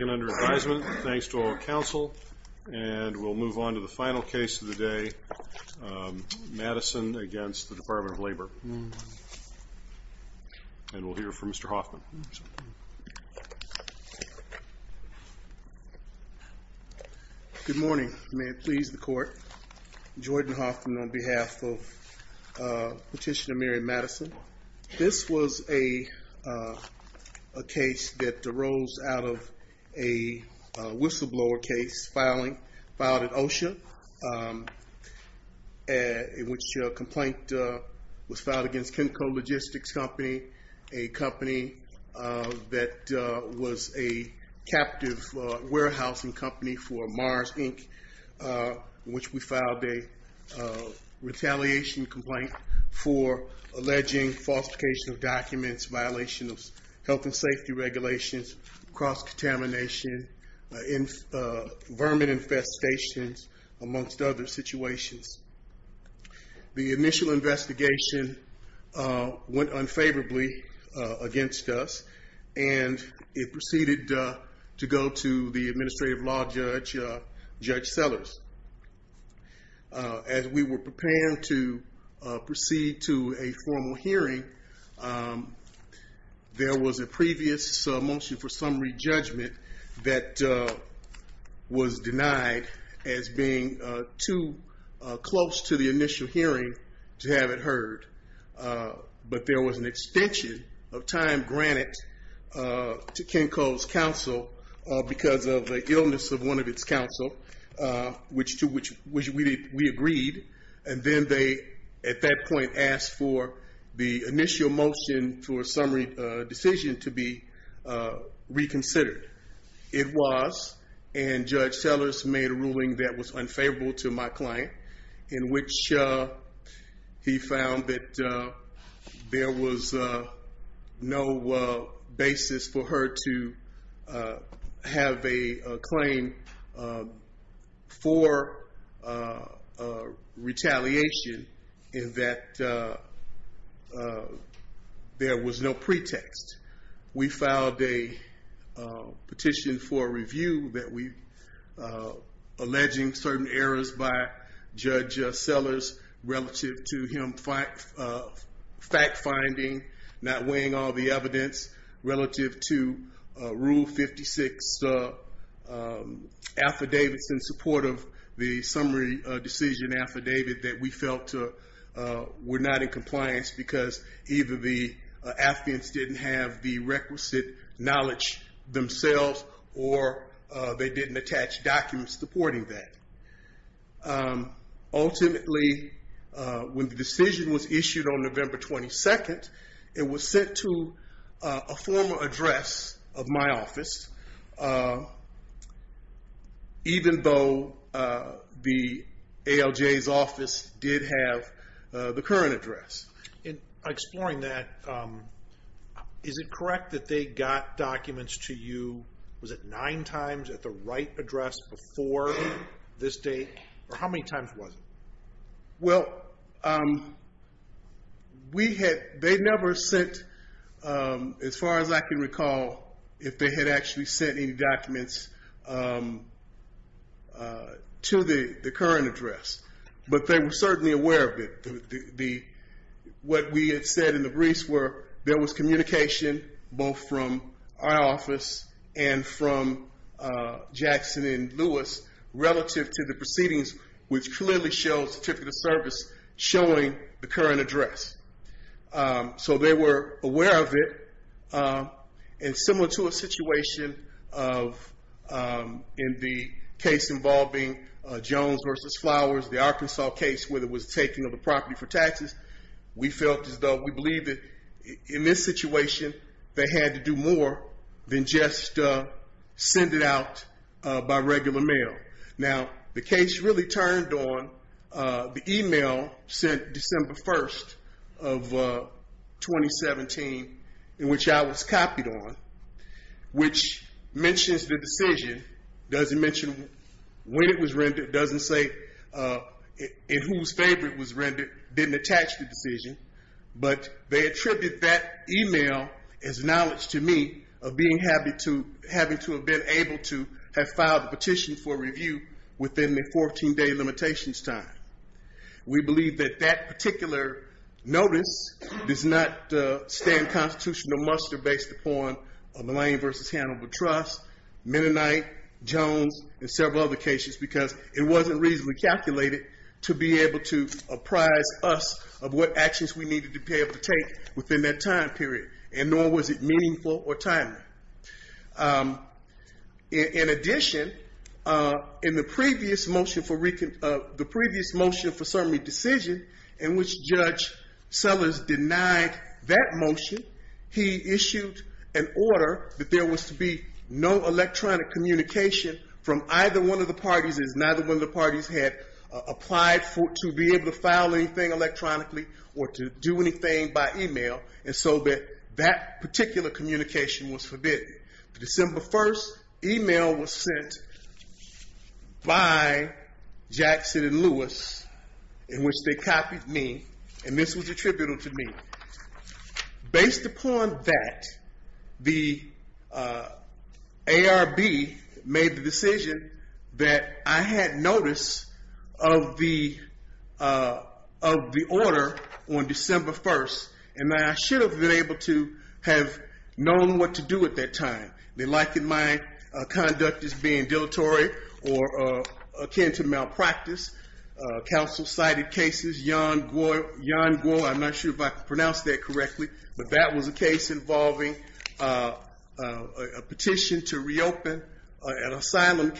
under advisement thanks to all counsel and we'll move on to the final case of the day Madison against the Department of Labor and we'll hear from mr. Hoffman good morning may it please the court Jordan Hoffman on behalf of petitioner Madison this was a case that arose out of a whistleblower case filing filed at OSHA in which a complaint was filed against chemical logistics company a company that was a captive warehousing company for Mars Inc. which we filed a retaliation complaint for alleging falsification of documents violation of health and safety regulations cross-contamination in vermin infestations amongst other situations the initial investigation went unfavorably against us and it proceeded to go to the administrative law judge judge Sellers as we were preparing to proceed to a formal hearing there was a previous motion for summary judgment that was denied as being too close to the initial hearing to have it heard but there was an extension of time granted to Ken counsel which to which we agreed and then they at that point asked for the initial motion for a summary decision to be reconsidered it was and judge Sellers made a ruling that was unfavorable to my client in which he found that there was no basis for her to have a claim for retaliation in that there was no pretext we filed a petition for review that we alleging certain errors by judge Sellers relative to him fact-finding not weighing all the evidence relative to rule 56 affidavits in support of the summary decision affidavit that we felt were not in compliance because either the affidavits didn't have the requisite knowledge themselves or they didn't attach documents supporting that ultimately when the decision was issued on November 22nd it was sent to a former address of my office even though the ALJ's office did have the current address. In exploring that is it correct that they got documents to you was it nine times at the right address before this date or how many times was it? Well we had they never sent as far as I can recall if they had actually sent any documents to the current address but they were certainly aware of it the what we had said in the briefs were there was communication both from our office and from Jackson and Lewis relative to the proceedings which clearly shows certificate of service showing the current address so they were aware of it and similar to a situation of in the case involving Jones versus Flowers the Arkansas case where there was taking of the property for taxes we felt as though we believe that in this situation they had to do more than just send it out by regular mail now the case really turned on the email sent December 1st of 2017 in which I was copied on which mentions the decision doesn't mention when it was rendered doesn't say in whose favor it was rendered didn't attach the decision but they attribute that email as knowledge to me of being happy to having to have been able to have filed a petition for review within the 14-day limitations time we believe that that particular notice does not stand constitutional muster based upon the lane versus Hannibal Trust, Mennonite, Jones and several other cases because it wasn't reasonably calculated to be able to apprise us of what actions we needed to be able to take within that time period and nor was it meaningful or timely. In addition in the previous motion for the previous motion for summary decision in which Judge Sellers denied that motion he issued an order that there was to be no electronic communication from either one of the parties as neither one of the parties had applied to be able to file anything electronically or to do anything by email and so that that particular communication was forbidden. The December 1st email was sent by Jackson and Lewis in which they copied me and this was of the of the order on December 1st and I should have been able to have known what to do at that time. They likened my conduct as being dilatory or akin to malpractice. Counsel cited cases Yon-Guo, I'm not sure if I pronounce that correctly but that was a case involving a petition to reopen an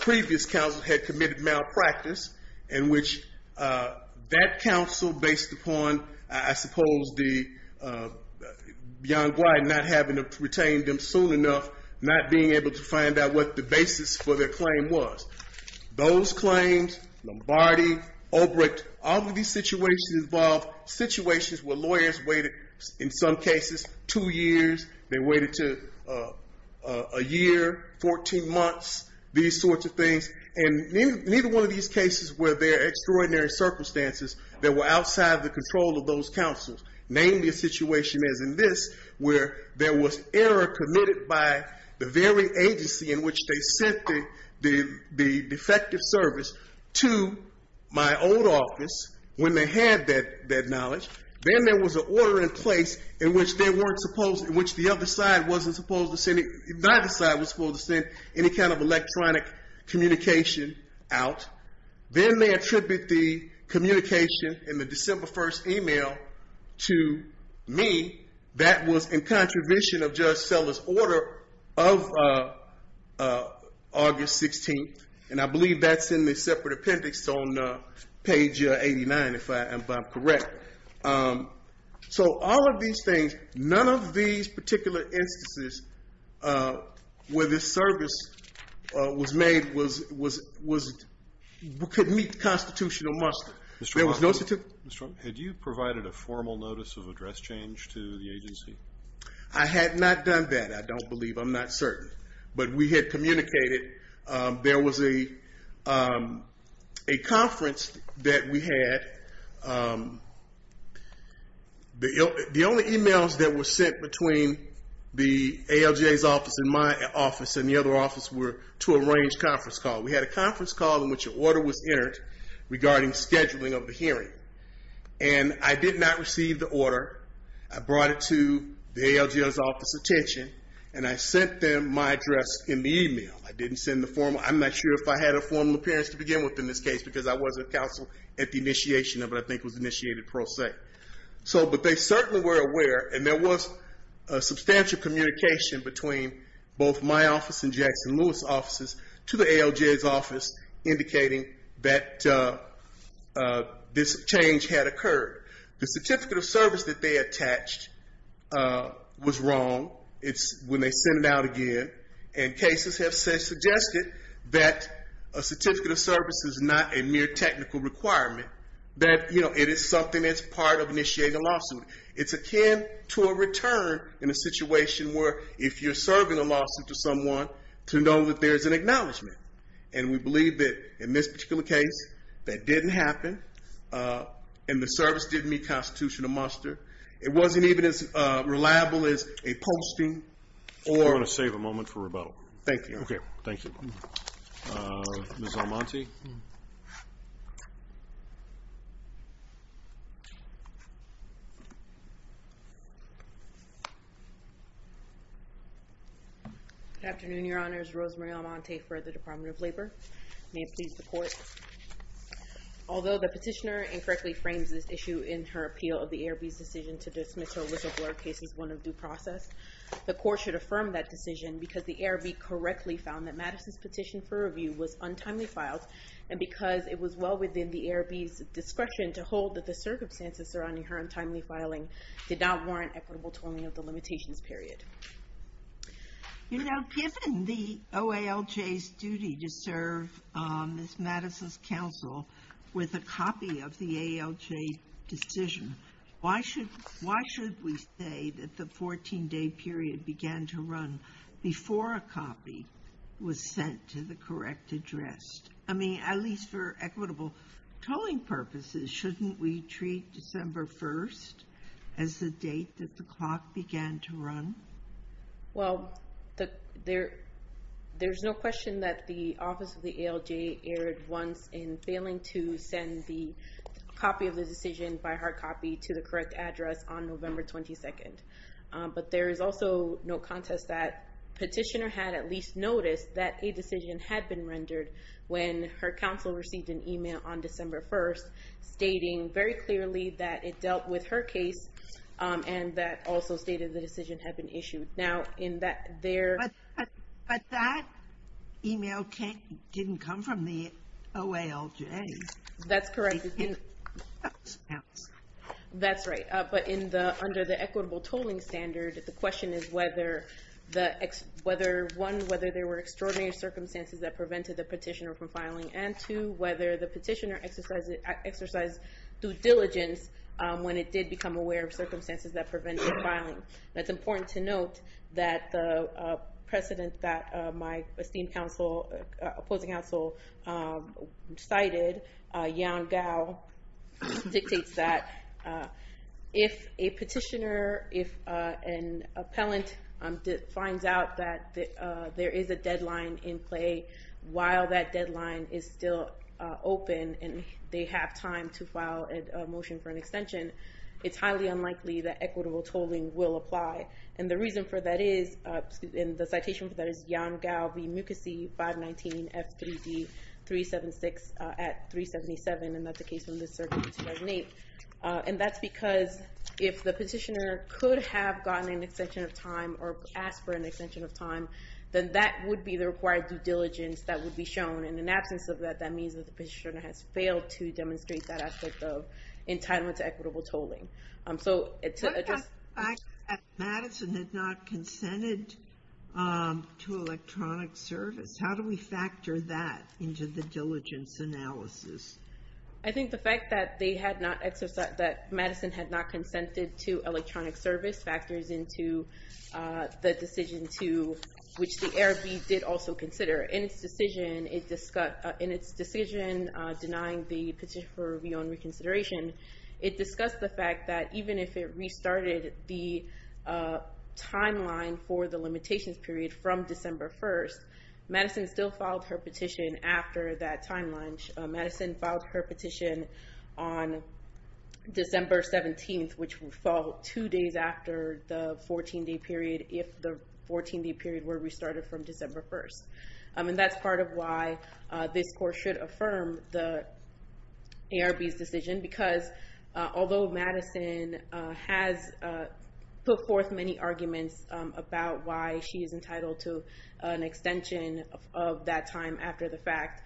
previous counsel had committed malpractice in which that counsel based upon I suppose the Yon-Guo not having to retain them soon enough not being able to find out what the basis for their claim was. Those claims, Lombardi, Ulbricht, all of these situations involved situations where lawyers waited in some things and neither one of these cases were there extraordinary circumstances that were outside the control of those counsels. Namely a situation as in this where there was error committed by the very agency in which they sent the defective service to my old office when they had that that knowledge. Then there was an order in place in which they weren't supposed in which the other side wasn't supposed to send it neither side was supposed to send any kind of communication out. Then they attribute the communication in the December 1st email to me that was in contribution of Judge Sellers order of August 16th and I believe that's in the separate appendix on page 89 if I'm correct. So all of these things none of these particular instances where this service was made was could meet constitutional muster. There was no certificate. Had you provided a formal notice of address change to the agency? I had not done that I don't believe I'm not certain but we had communicated there was a conference that we had. The only emails that were sent between the ALJ's office and my office and the other office were to arrange conference call. We had a conference call in which an order was entered regarding scheduling of the hearing and I did not receive the order. I brought it to the ALJ's office attention and I sent them my address in the email. I didn't send the formal I'm not sure if I had a formal appearance to begin with in this case because I wasn't counsel at the initiation of it I think was initiated pro se. So but they certainly were aware and there was a substantial communication between both my office and Jackson Lewis offices to the ALJ's office indicating that this change had occurred. The certificate of service that they attached was wrong. It's when they sent it out again and cases have suggested that a certificate of service is not a mere technical requirement that you know it is something that's part of initiating a lawsuit. It's akin to a return in a situation where if you're serving a lawsuit to someone to know that there's an acknowledgment and we believe that in this particular case that didn't happen and the service didn't meet constitutional muster. It wasn't even as reliable as a posting or. I want to save a moment for rebuttal. Thank you. Okay. Thank you. Ms. Almonte. Good afternoon your honors. Rosemary Almonte for the Department of Labor. May it please the court. Although the petitioner incorrectly frames this issue in her appeal of the ARB's decision to dismiss her whistleblower case as one of due process, the court should affirm that decision because the ARB correctly found that Madison's petition for review was untimely filed and because it was well within the ARB's discretion to hold that the circumstances surrounding her untimely filing did not warrant equitable tolling of the limitations period. You know given the OALJ's duty to serve Ms. Madison's counsel with a copy of the AALJ decision, why should why should we say that the 14-day period began to run? Well, there there's no question that the office of the AALJ aired once in failing to send the copy of the decision by hard copy to the correct address on at least noticed that a decision had been rendered when her counsel received an email on December 1st stating very clearly that it dealt with her case and that also stated the decision had been issued. Now in that there. But that email didn't come from the OALJ. That's correct. That's right but in the under the equitable tolling standard the question is whether the whether one whether there were extraordinary circumstances that prevented the petitioner from filing and two whether the petitioner exercised due diligence when it did become aware of circumstances that prevented filing. That's important to note that the precedent that my esteemed counsel opposing counsel cited Yan Gao dictates that if a petitioner if an appellant finds out that there is a deadline in play while that deadline is still open and they have time to file a motion for an extension it's highly unlikely that equitable tolling will apply and the reason for that is in the citation for Yan Gao v. Mukasey 519 F3D 376 at 377 and that's a case from the circuit 2008. And that's because if the petitioner could have gotten an extension of time or asked for an extension of time then that would be the required due diligence that would be shown and in absence of that that means that the petitioner has failed to demonstrate that aspect of entitlement to equitable tolling. So it's electronic service how do we factor that into the diligence analysis? I think the fact that they had not exercised that Madison had not consented to electronic service factors into the decision to which the ARB did also consider in its decision it discussed in its decision denying the petition for review on reconsideration it discussed the fact that even if it restarted the timeline for the limitations period from December 1st Madison still filed her petition after that timeline. Madison filed her petition on December 17th which would fall two days after the 14-day period if the 14-day period were restarted from December 1st. I mean that's part of why this course should affirm the ARB's decision because although Madison has put forth many arguments about why she is entitled to an extension of that time after the fact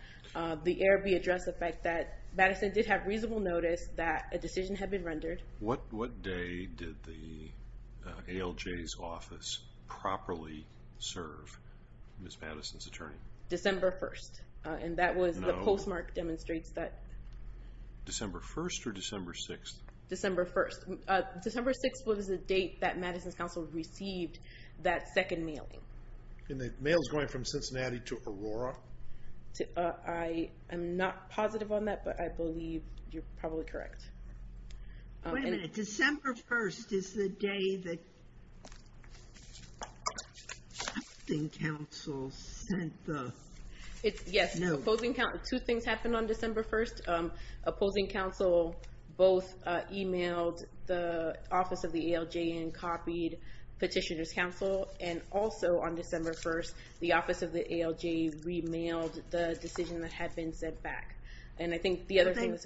the ARB addressed the fact that Madison did have reasonable notice that a decision had been rendered. What day did the ALJ's office properly serve Ms. Madison's attorney? December 1st and that was the postmark demonstrates that December 1st or December 6th? December 1st. December 6th was a date that received that second mailing. And the mail is going from Cincinnati to Aurora? I am not positive on that but I believe you're probably correct. December 1st is the day that opposing counsel sent the note. Yes, two things happened on December 1st opposing counsel both emailed the office of the ALJ and petitioners counsel and also on December 1st the office of the ALJ re-mailed the decision that had been sent back. And I think the other thing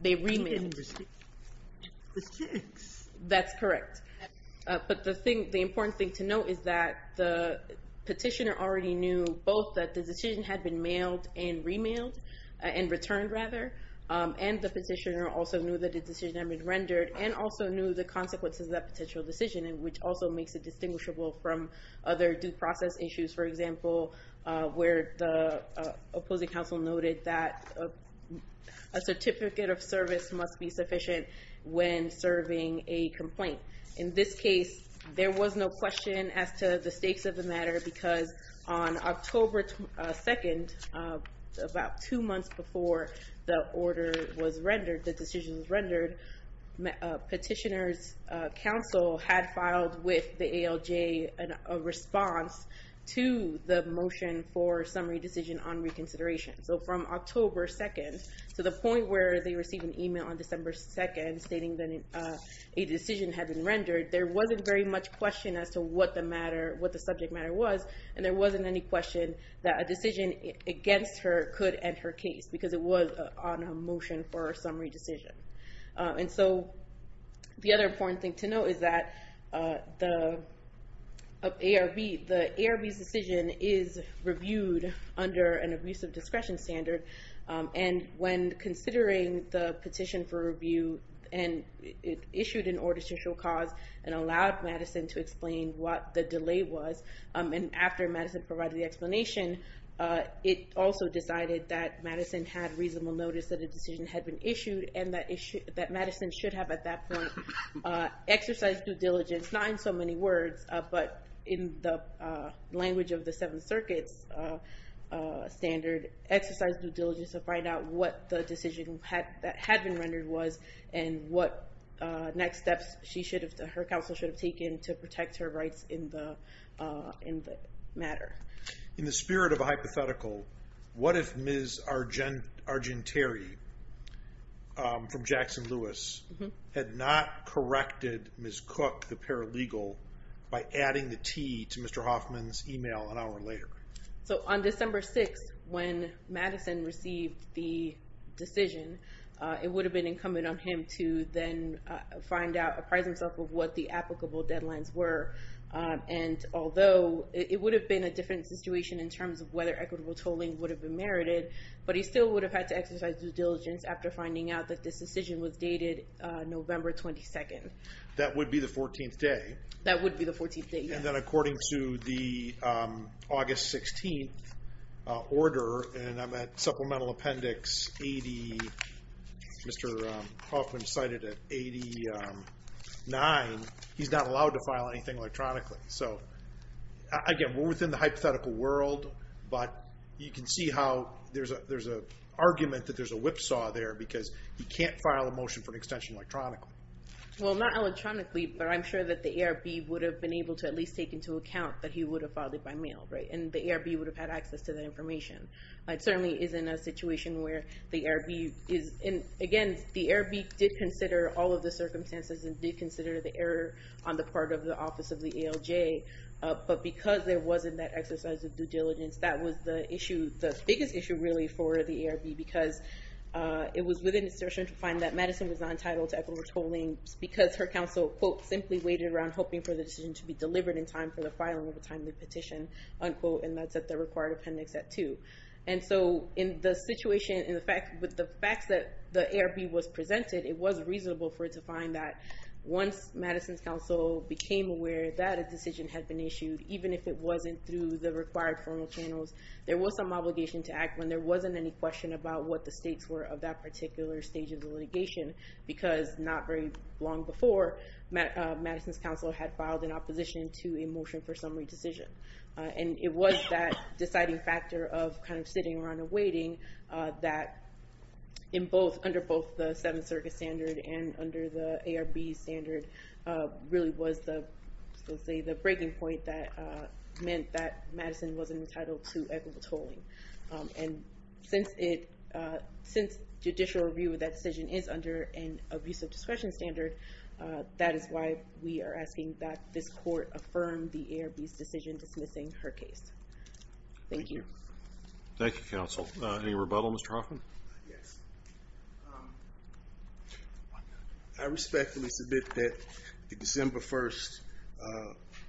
they re-mailed. That's correct. But the thing the important thing to note is that the petitioner already knew both that the decision had been mailed and re-mailed and returned rather and the petitioner also knew that the decision had been rendered and also knew the consequences of that potential decision and which also makes it distinguishable from other due process issues for example where the opposing counsel noted that a certificate of service must be sufficient when serving a complaint. In this case there was no question as to the stakes of the matter because on October 2nd about two months before the order was rendered the decision was rendered petitioners counsel had filed with the ALJ a response to the motion for summary decision on reconsideration. So from October 2nd to the point where they received an email on December 2nd stating that a decision had been rendered there wasn't very much question as to what the matter what the subject matter was and there wasn't any question that a decision against her could end her case because it was on a motion for a summary decision. And so the other important thing to know is that the ARB the ARB's decision is reviewed under an abusive discretion standard and when considering the petition for review and it issued an ordice to show cause and allowed Madison to explain what the delay was and after Madison provided the explanation it also decided that Madison had reasonable notice that a decision had been issued and that Madison should have at that point exercised due diligence not in so many words but in the language of the Seventh Circuit's standard exercised due diligence to find out what the decision that had been rendered was and what next steps she should have her counsel should have taken to protect her rights in the matter. In the spirit of a hypothetical what if Ms. Argenteri from Jackson Lewis had not corrected Ms. Cook the paralegal by adding the T to Mr. Hoffman's email an hour later? So on December 6th when Madison received the decision it would have been incumbent on him to then find out appraise himself of what the applicable deadlines were and although it would have been a different situation in terms of whether equitable tolling would have been merited but he still would have had to exercise due diligence after finding out that this decision was dated November 22nd. That would be the 14th day? That would be the 14th day. And then according to the August 16th order and I'm at supplemental appendix 80 Mr. Hoffman cited at 89 he's not allowed to file anything electronically so again we're within the hypothetical world but you can see how there's a argument that there's a whipsaw there because he can't file a motion for an extension electronically. Well not electronically but I'm sure that the ARB would have been able to at least take into account that he would have filed it by mail right and the ARB would have had access to that information. It certainly is in a situation where the ARB is in again the ARB did consider all of the circumstances and did consider the error on the part of the office of the ALJ but because there wasn't that exercise of due diligence that was the issue the biggest issue really for the ARB because it was within assertion to find that Madison was not entitled to equitable tolling because her counsel quote simply waited around hoping for the decision to be delivered in time for the filing of a timely petition unquote and that's at the required appendix at 2. And so in the situation in the fact with the facts that the ARB was presented it was reasonable for it to find that once Madison's counsel became aware that a decision had been issued even if it wasn't through the required formal channels there was some obligation to act when there wasn't any question about what the stakes were of that particular stage of the litigation because not very long before Madison's counsel had filed an opposition to a motion for summary decision and it was that deciding factor of kind of sitting around and waiting that in both under both the Seventh Circuit standard and under the ARB standard really was the say the breaking point that meant that Madison wasn't entitled to equitable tolling and since it since judicial review of that decision is under an abuse of discretion standard that is why we are asking that this court affirmed the ARB's decision dismissing her case. Thank you. Thank you counsel. Any rebuttal Mr. Hoffman? Yes. I respectfully submit that the December 1st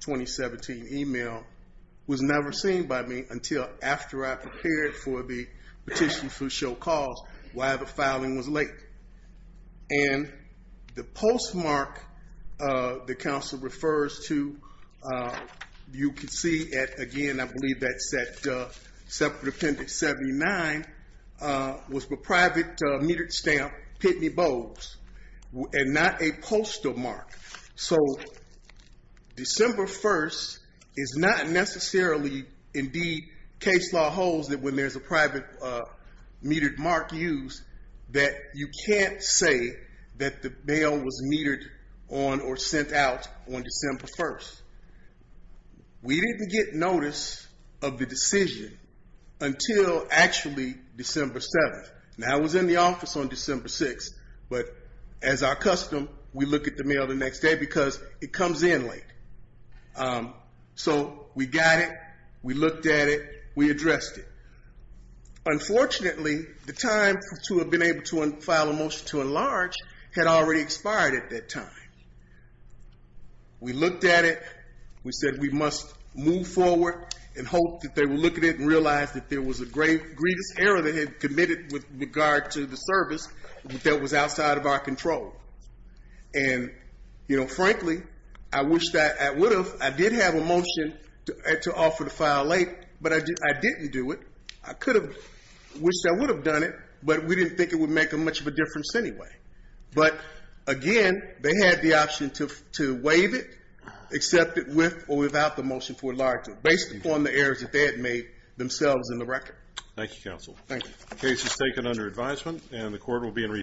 2017 email was never seen by me until after I prepared for the petition for refers to you can see it again I believe that separate appendix 79 was the private metered stamp Pitney Bogues and not a postal mark so December 1st is not necessarily indeed case law holds that when there's a private metered mark that you can't say that the mail was metered on or sent out on December 1st. We didn't get notice of the decision until actually December 7th and I was in the office on December 6th but as our custom we look at the mail the next day because it comes in late so we got it we looked at it we addressed it unfortunately the time to have been able to file a motion to enlarge had already expired at that time we looked at it we said we must move forward and hope that they were looking at and realized that there was a great greatest error that had committed with regard to the service that was outside of our control and you know frankly I wish that I would have I did have a motion to offer to file late but I did I didn't do it I could have wished I would have done it but we didn't think it would make a much of a difference anyway but again they had the option to to waive it accept it with or without the motion for larger based upon the errors that they had made themselves in the record. Thank you counsel. The case is taken under advisement and the court will be in recess.